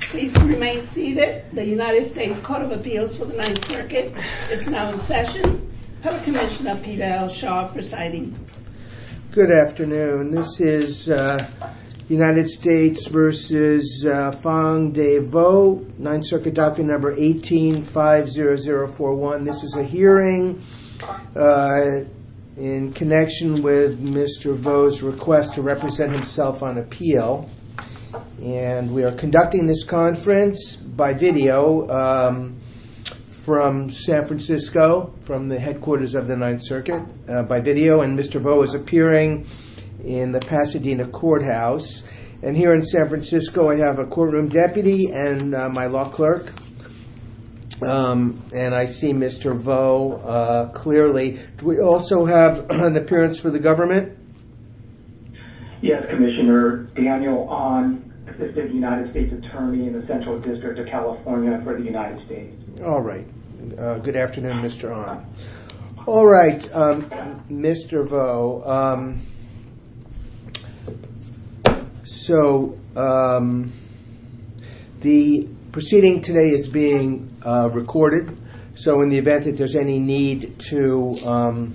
Please remain seated. The United States Court of Appeals for the Ninth Circuit is now in session. Public Commissioner Pete L. Shaw presiding. Good afternoon. This is United States v. Phuong Dave Vo, Ninth Circuit Doctrine No. 18-50041. This is a hearing in connection with Mr. Vo's request to represent himself on appeal. And we are conducting this conference by video from San Francisco, from the headquarters of the Ninth Circuit, by video. And Mr. Vo is appearing in the Pasadena courthouse. And here in San Francisco, I have a courtroom deputy and my clerk. And I see Mr. Vo clearly. Do we also have an appearance for the government? Yes, Commissioner Daniel Ahn, Assistant United States Attorney in the Central District of California for the United States. All right. Good afternoon, Mr. Ahn. All right, Mr. Vo. So the proceeding today is being recorded. So in the event that there's any need to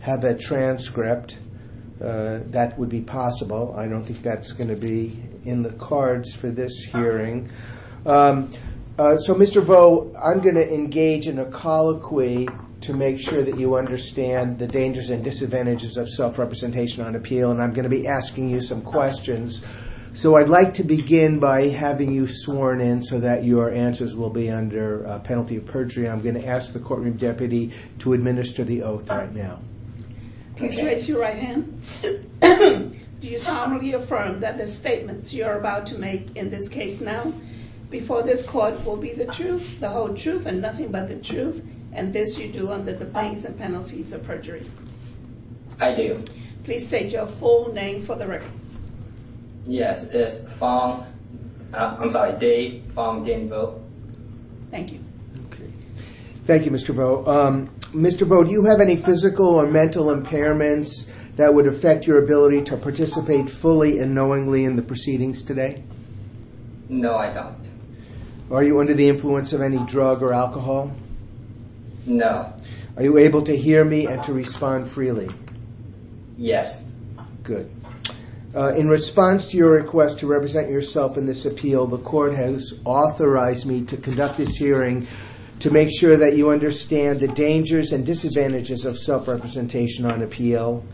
have a transcript, that would be possible. I don't think that's going to be in the cards for this hearing. So Mr. Vo, I'm going to engage in a colloquy to make sure that you understand the disadvantages of self-representation on appeal. And I'm going to be asking you some questions. So I'd like to begin by having you sworn in so that your answers will be under a penalty of perjury. I'm going to ask the courtroom deputy to administer the oath right now. Please raise your right hand. Do you solemnly affirm that the statements you are about to make in this case now before this court will be the truth, the whole truth, and nothing but the truth, and this you do under the bias and penalties of perjury? I do. Please state your full name for the record. Yes, it's Fong. I'm sorry, Dave Fong Dinh Vo. Thank you. Okay. Thank you, Mr. Vo. Mr. Vo, do you have any physical or mental impairments that would affect your ability to participate fully and knowingly in the proceedings today? No, I don't. Are you under the influence of any drug or alcohol? No. Are you able to hear me and to respond freely? Yes. Good. In response to your request to represent yourself in this appeal, the court has authorized me to conduct this hearing to make sure that you understand the dangers and disadvantages of self-representation on appeal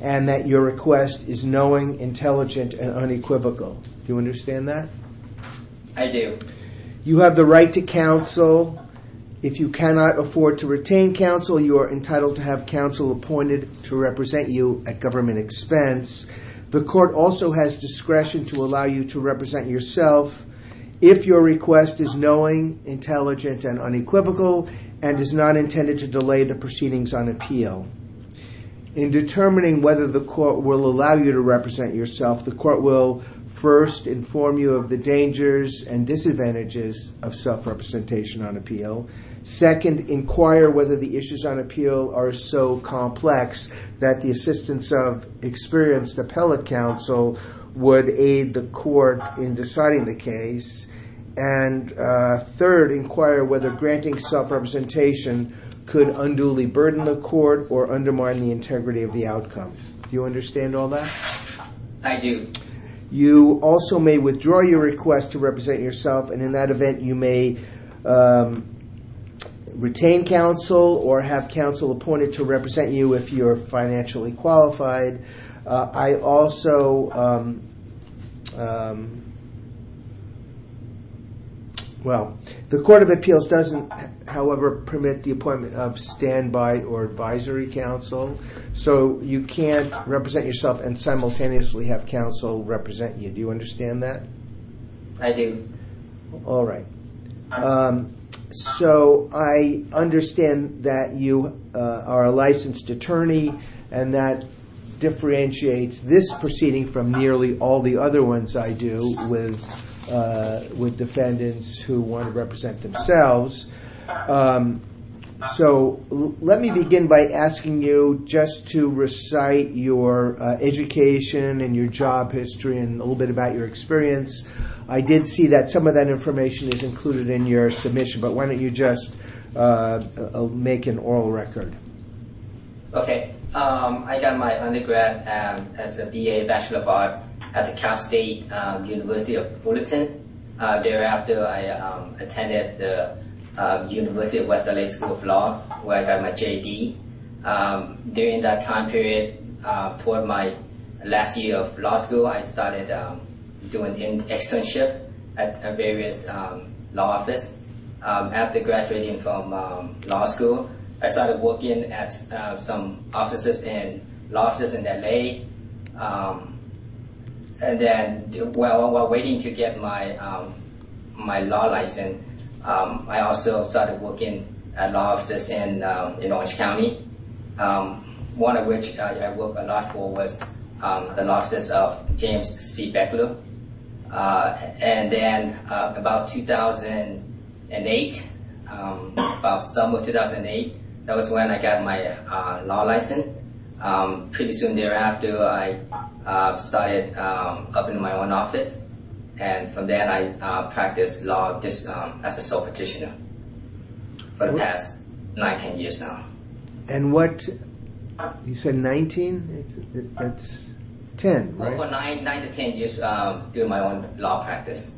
and that your request is knowing, intelligent, and unequivocal. Do you understand that? I do. You have the right to counsel. If you cannot afford to retain counsel, you are entitled to have counsel appointed to represent you at government expense. The court also has discretion to allow you to represent yourself if your request is knowing, intelligent, and unequivocal and is not intended to delay the proceedings on appeal. In determining whether the court will allow you to represent yourself, the court will first inform you of the dangers and disadvantages of self-representation on appeal. Second, inquire whether the issues on appeal are so complex that the assistance of experienced counsel would aid the court in deciding the case. Third, inquire whether granting self-representation could unduly burden the court or undermine the integrity of the outcome. Do you understand all that? I do. You also may withdraw your request to represent yourself and in that event you may retain counsel or have counsel appointed to represent you if you're financially qualified. I also... Well, the Court of Appeals doesn't, however, permit the appointment of standby or advisory counsel, so you can't represent yourself and simultaneously have counsel represent you. Do you understand that? I do. All right. So, I understand that you are a licensed attorney and that differentiates this proceeding from nearly all the other ones I do with defendants who want to represent themselves. So, let me begin by asking you just to recite your education and your job history and a little bit about your experience. I did see that some of that information is included in your submission, but why don't you just make an oral record? Okay. I got my undergrad as a BA Bachelor of Arts at the Cal State University of Fullerton. Thereafter, I attended the University of West L.A. School of Law, where I got my JD. During that time period, toward my last year of law school, I started doing externship at various law offices. After graduating from law school, I started working at some offices and law offices in L.A. While waiting to get my law license, I also started working at law offices in Orange County, one of which I worked a lot for was the law office of James C. Beckley. And then about 2008, about summer of 2008, that was when I got my law license. Pretty soon thereafter, I started opening my own office. And from there, I practiced law as a sole petitioner for the past 19 years now. And what, you said 19? That's 10, right? For 9 to 10 years, doing my own law practice.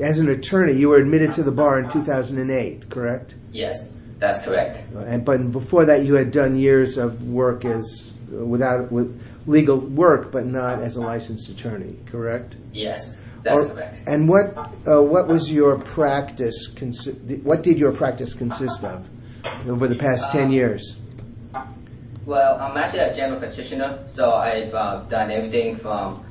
As an attorney, you were admitted to the bar in 2008, correct? Yes, that's correct. But before that, you had done years of work without legal work, but not as consistent over the past 10 years. Well, I'm actually a general petitioner, so I've done everything from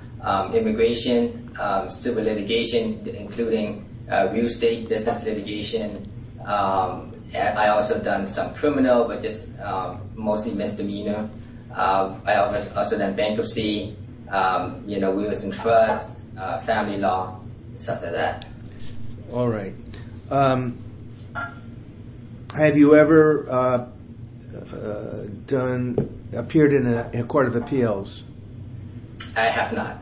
immigration, civil litigation, including real estate business litigation. I've also done some criminal, but just mostly misdemeanor. I've also done bankruptcy, you know, we were in trust, family law, stuff like that. All right. Have you ever appeared in a court of appeals? I have not.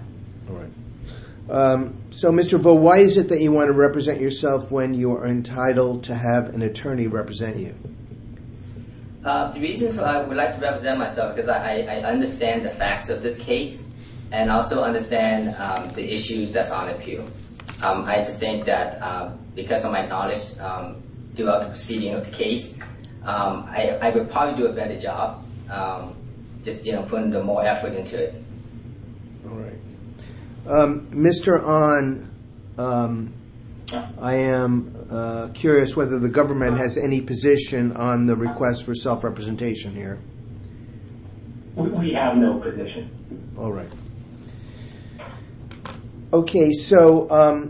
All right. So Mr. Vo, why is it that you want to represent yourself when you are entitled to have an attorney represent you? The reason I would like to represent myself is because I understand the facts of this case and also understand the issues that's on appeal. I just think that because of my knowledge throughout the proceeding of the case, I would probably do a better job, just, you know, putting more effort into it. All right. Mr. An, I am curious whether the government has any position on the request for self-representation here. We have no position. All right. Okay. So,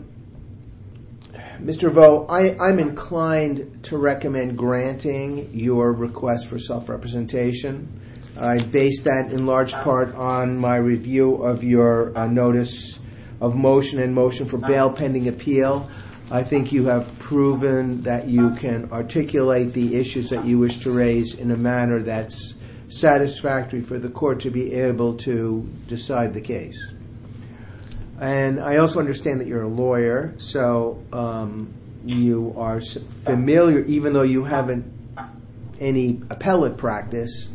Mr. Vo, I'm inclined to recommend granting your request for self-representation. I base that in large part on my review of your notice of motion and motion for bail pending appeal. I think you have proven that you can articulate the issues that you wish to raise in a manner that's satisfactory for the court to be able to decide the case. And I also understand that you're a lawyer. So, you are familiar, even though you haven't any appellate practice,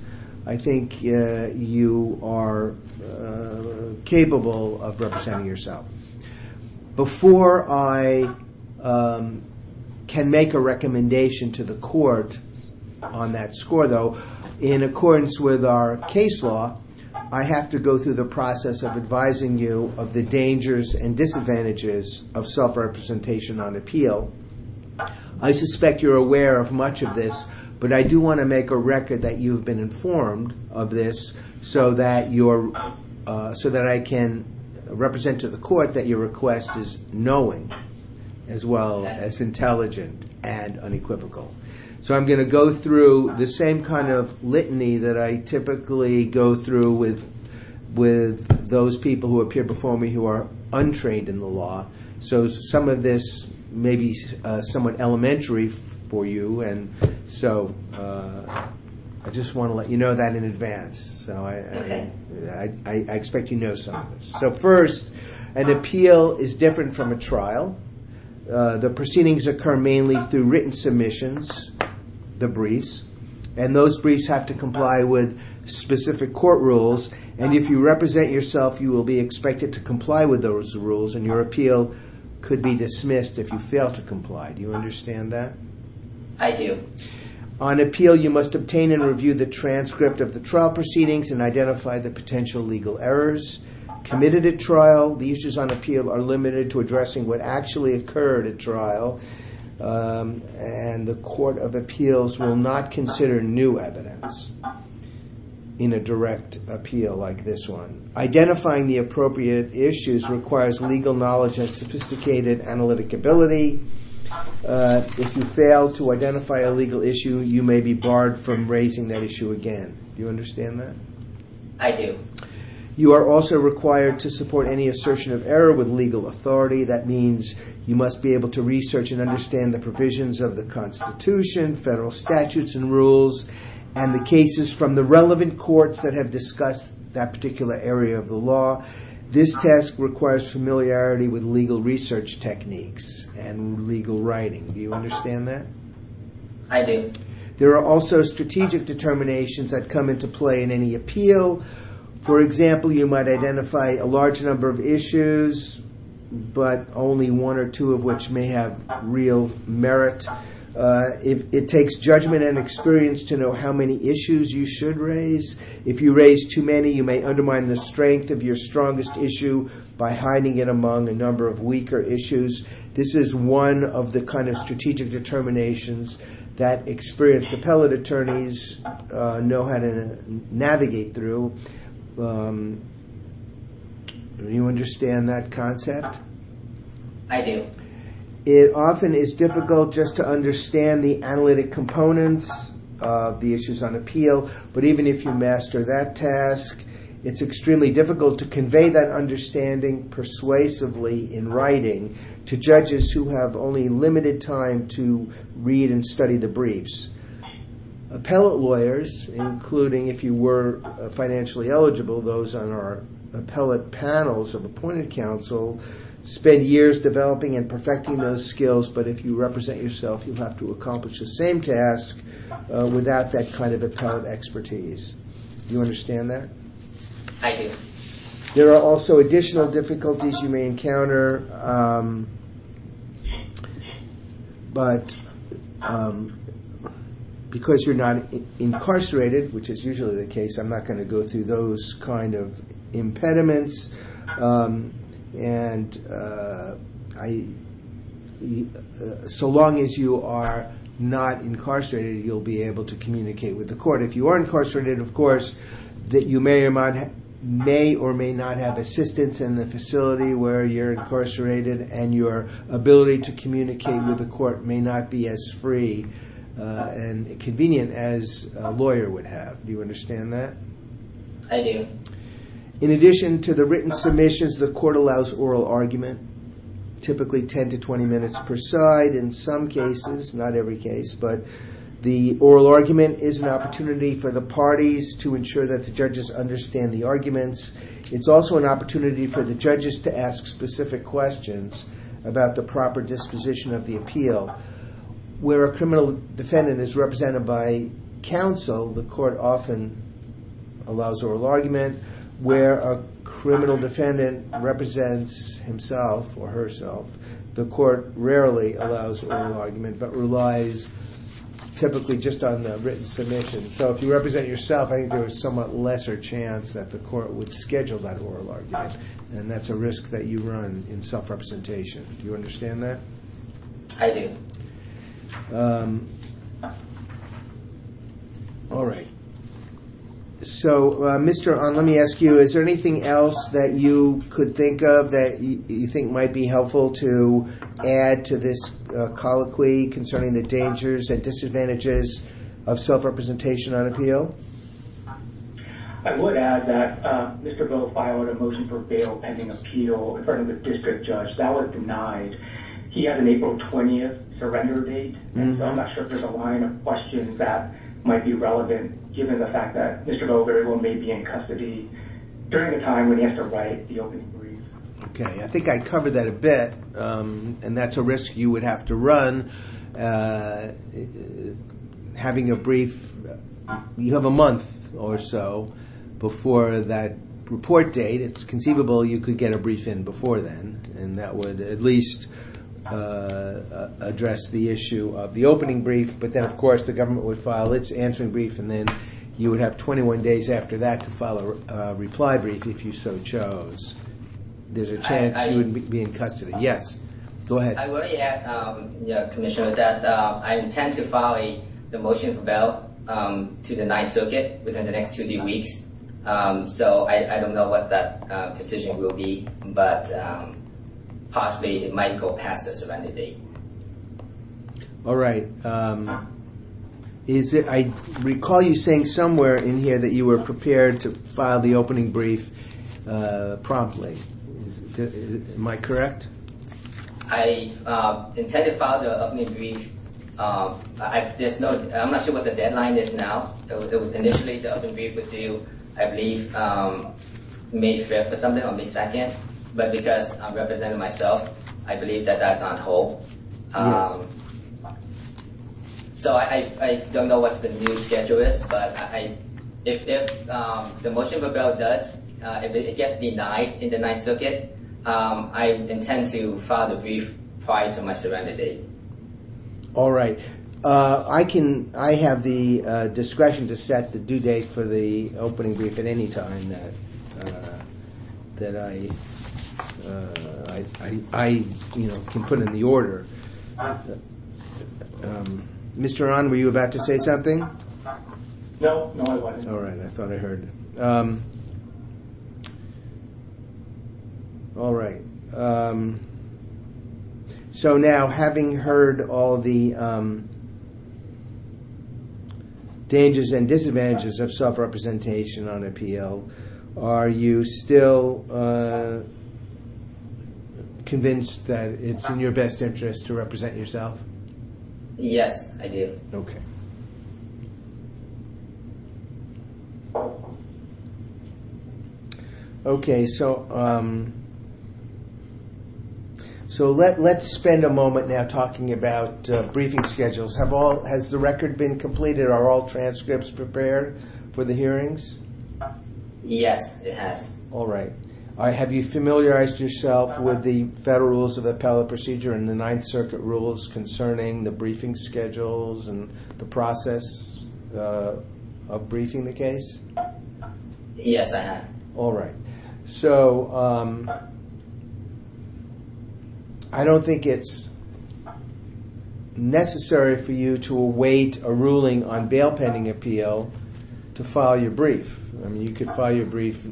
I think you are capable of representing yourself. Before I can make a recommendation to the court on that score, though, in accordance with our case law, I have to go through the process of advising you of the dangers and disadvantages of self-representation on appeal. I suspect you're aware of much of this, but I do want to make a record that you've been informed of this so that I can represent to the court that your request is knowing as well as intelligent and unequivocal. So, I'm going to go through the same kind of litany that I typically go through with those people who appear before me who are trained in the law. So, some of this may be somewhat elementary for you. And so, I just want to let you know that in advance. So, I expect you know some of this. So, first, an appeal is different from a trial. The proceedings occur mainly through written submissions, the briefs, and those briefs have to comply with specific court rules. And if you represent yourself, you will be expected to comply with those rules and your appeal could be dismissed if you fail to comply. Do you understand that? I do. On appeal, you must obtain and review the transcript of the trial proceedings and identify the potential legal errors committed at trial. The issues on appeal are limited to addressing what actually occurred at trial. And the court of appeals will not consider new evidence in a direct appeal like this one. Identifying the appropriate issues requires legal knowledge and sophisticated analytic ability. If you fail to identify a legal issue, you may be barred from raising that issue again. Do you understand that? I do. You are also required to support any assertion of error with legal authority. That means you must be able to research and understand the relevant courts that have discussed that particular area of the law. This task requires familiarity with legal research techniques and legal writing. Do you understand that? I do. There are also strategic determinations that come into play in any appeal. For example, you might identify a large number of issues but only one or two of which may have real merit. It takes judgment and experience to know how many issues you should raise. If you raise too many, you may undermine the strength of your strongest issue by hiding it among a number of weaker issues. This is one of the kind of strategic determinations that experienced appellate attorneys know how to navigate through. Do you understand that concept? I do. It often is difficult just to understand the analytic components of the issues on appeal, but even if you master that task, it's extremely difficult to convey that understanding persuasively in writing to judges who have only limited time to read and study the briefs. Appellate lawyers, including if you were financially eligible, those on our appellate panels of appointed counsel, spend years developing and perfecting skills, but if you represent yourself, you'll have to accomplish the same task without that kind of appellate expertise. Do you understand that? I do. There are also additional difficulties you may encounter, but because you're not incarcerated, which is usually the case, I'm not going to go through those kind of impediments. So long as you are not incarcerated, you'll be able to communicate with the court. If you are incarcerated, of course, that you may or may not have assistance in the facility where you're incarcerated, and your ability to communicate with the court may not be as free and convenient as a lawyer would have. Do you understand that? I do. In addition to the written submissions, the court allows oral argument, typically 10 to 20 minutes per side. In some cases, not every case, but the oral argument is an opportunity for the parties to ensure that the judges understand the arguments. It's also an opportunity for the judges to ask specific questions about the proper disposition of the appeal. Where a criminal defendant is represented by counsel, the court often allows oral argument. Where a criminal defendant represents himself or herself, the court rarely allows oral argument, but relies typically just on the written submission. So if you represent yourself, I think there is somewhat lesser chance that the court would schedule that oral argument, and that's a risk that you run in self-representation. Do you All right. So, Mr. Ahn, let me ask you, is there anything else that you could think of that you think might be helpful to add to this colloquy concerning the dangers and disadvantages of self-representation on appeal? I would add that Mr. Bill filed a motion for bail pending appeal in front of the district judge. That was denied. He had an April 20th surrender date, and so I'm not sure if there's a line of questions that might be relevant given the fact that Mr. Bill may be in custody during the time when he has to write the open brief. Okay. I think I covered that a bit, and that's a risk you would have to run. Having a brief, you have a month or so before that report date, it's conceivable you could a brief in before then, and that would at least address the issue of the opening brief, but then, of course, the government would file its answering brief, and then you would have 21 days after that to file a reply brief if you so chose. There's a chance you would be in custody. Yes, go ahead. I worry, Commissioner, that I intend to file the motion for bail to the Ninth Circuit within the decision will be, but possibly it might go past the surrender date. All right. I recall you saying somewhere in here that you were prepared to file the opening brief promptly. Am I correct? I intended to file the opening brief. I'm not sure what the deadline is now. It was initially the opening brief was due, I believe, May 5th or something on May 2nd, but because I'm representing myself, I believe that that's on hold. So I don't know what the new schedule is, but if the motion for bail does, if it gets denied in the Ninth Circuit, I intend to file the brief prior to my surrender date. All right. I have the discretion to set the due date for the opening brief at any time that I can put in the order. Mr. Aran, were you about to say something? No, I wasn't. All right. I thought all the dangers and disadvantages of self-representation on appeal. Are you still convinced that it's in your best interest to represent yourself? Yes, I do. Okay. Okay. So let's spend a moment now talking about briefing schedules. Has the record been completed? Are all transcripts prepared for the hearings? Yes, it has. All right. Have you familiarized yourself with the Federal Rules of Appellate Procedure and the Ninth Circuit rules concerning the briefing schedules and the process of briefing the case? Yes, I have. All right. So I don't think it's necessary for you to await a ruling on bail pending appeal to file your brief. I mean, you could file your brief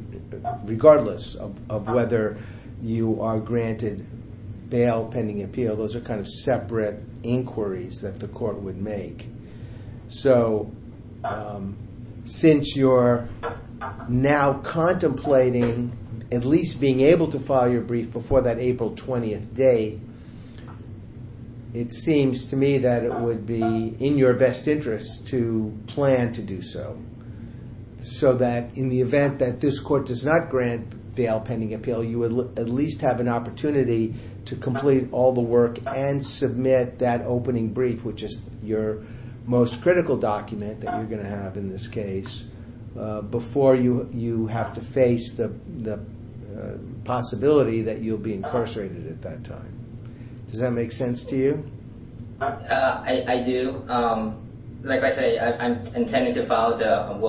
regardless of whether you are granted bail pending appeal. Those are kind of separate inquiries that the court would make. So since you're now contemplating at least being able to file your brief before that April 20th date, it seems to me that it would be in your best interest to plan to do so. So that in the event that this court does not grant bail pending appeal, you at least have an opportunity to complete all the work and submit that opening brief, which is your most critical document that you're going to have in this case, before you have to face the possibility that you'll be incarcerated at that time. Does that make sense to you? I do. Like I say, I'm intending to work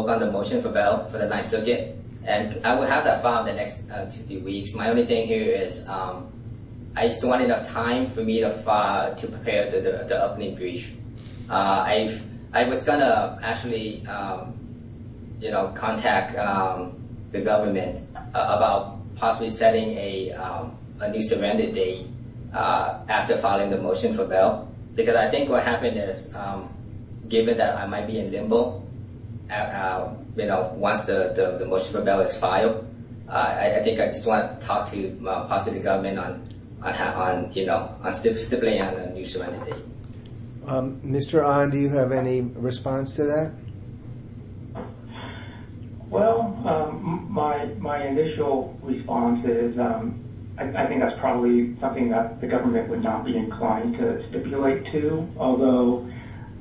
on the motion for bail for the Ninth Circuit, and I will have that filed in the next two weeks. My only thing here is I just want enough time for me to prepare the opening brief. I was going to actually contact the government about possibly setting a new surrender date after filing the motion for bail, because I think what happened is, given that I might be in limbo, you know, once the motion for bail is filed, I think I just want to talk to the Pacific government on stipulating a new surrender date. Mr. An, do you have any response to that? Well, my initial response is I think that's probably something that the government would not be inclined to stipulate to, although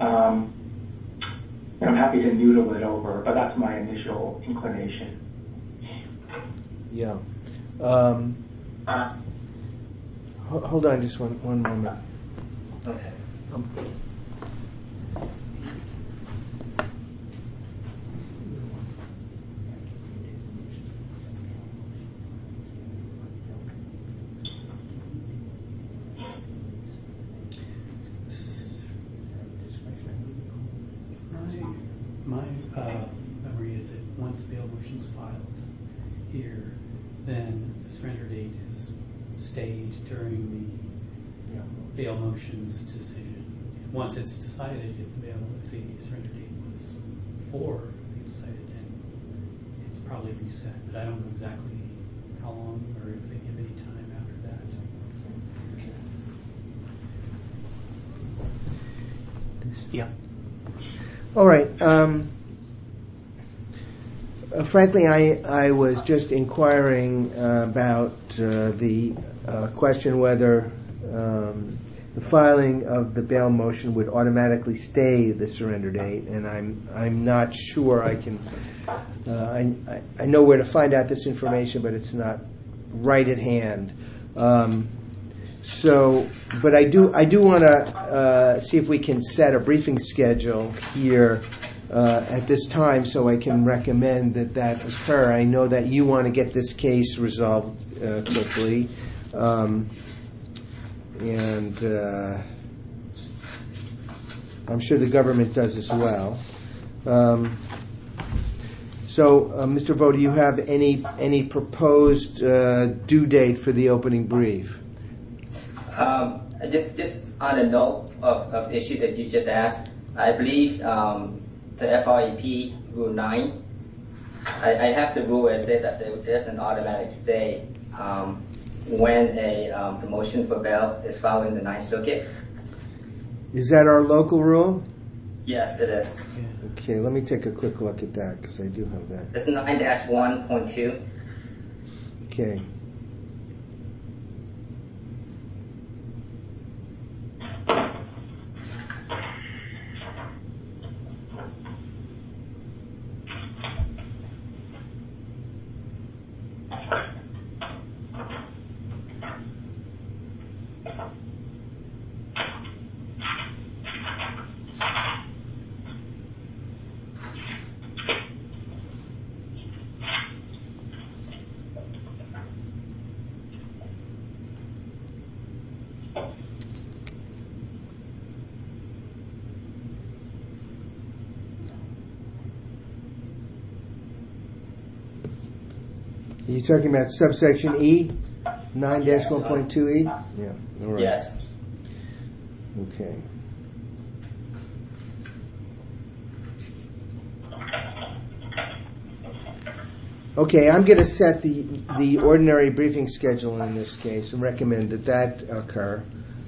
I'm happy to noodle it over, but that's my initial inclination. Yeah. Hold on just one more minute. My memory is that once the bail motion is filed here, then the surrender date is stayed during the bail motion's decision. Once it's decided it's available, if the surrender date was before it was decided, then it's probably reset, but I don't know exactly how long or if they have any time after that. Yeah. All right. Frankly, I was just inquiring about the question whether the filing of the bail motion would automatically stay the surrender date, and I'm not sure. I know where to find out this information, but it's not right at hand. But I do want to see if we can set a briefing schedule here at this time so I can recommend that that occur. I know that you want to get this case resolved quickly, and I'm sure the government does as well. So, Mr. Vo, do you have any proposed due date for the opening brief? Just on a note of the issue that you just asked, I believe the FRAP Rule 9, I have the rule that says there's an automatic stay when a motion for bail is filed in the 9th Circuit. Is that our local rule? Yes, it is. Okay, let me take a quick look at that because I do have that. It's 9-1.2. Okay. Are you talking about subsection E? 9-1.2E? Yes. Okay. Okay, I'm going to set the ordinary briefing schedule in this case and recommend that that occur,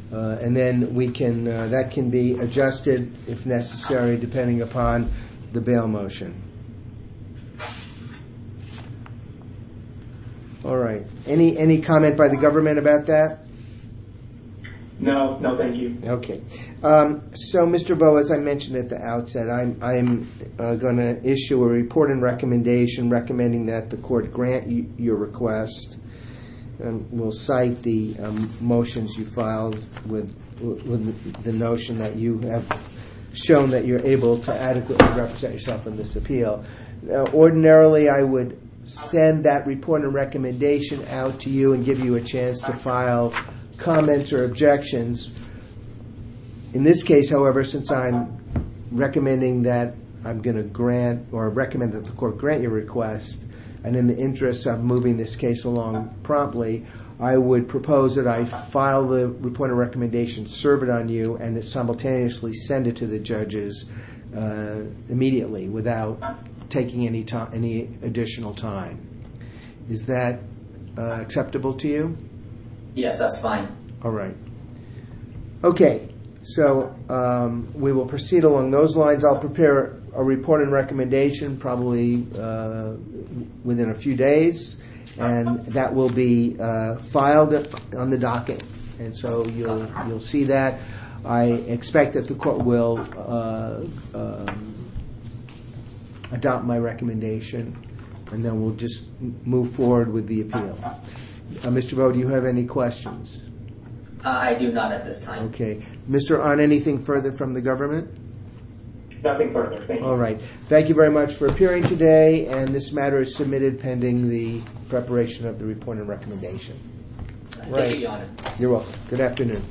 and then that can be adjusted, if necessary, depending upon the bail motion. All right. Any comment by the government about that? No. No, thank you. Okay. So, Mr. Vo, as I mentioned at the outset, I'm going to issue a report and recommendation recommending that the court grant your request and will cite the motions you filed with the notion that you have shown that you're able to adequately represent yourself in this appeal. Now, ordinarily, I would send that report and recommendation out to you and give you a chance to file comments or objections. In this case, however, since I'm recommending that I'm going to grant or recommend that the court grant your request, and in the interest of moving this case along promptly, I would propose that I file the report and recommendation, serve it on you, and simultaneously send it to the judges immediately without taking any additional time. Is that acceptable to you? Yes, that's fine. All right. Okay. So, we will proceed along those lines. I'll prepare a report and recommendation probably within a few days, and that will be filed on the docket, and so you'll see that. I expect that the court will adopt my recommendation, and then we'll just move forward with the appeal. Mr. Vo, do you have any questions? I do not at this time. Okay. Mr. Ahn, anything further from the government? Nothing further. Thank you. All right. Thank you very much for appearing today, and this matter is submitted pending the preparation of the report and recommendation. Thank you, Your Honor. You're welcome. Good afternoon.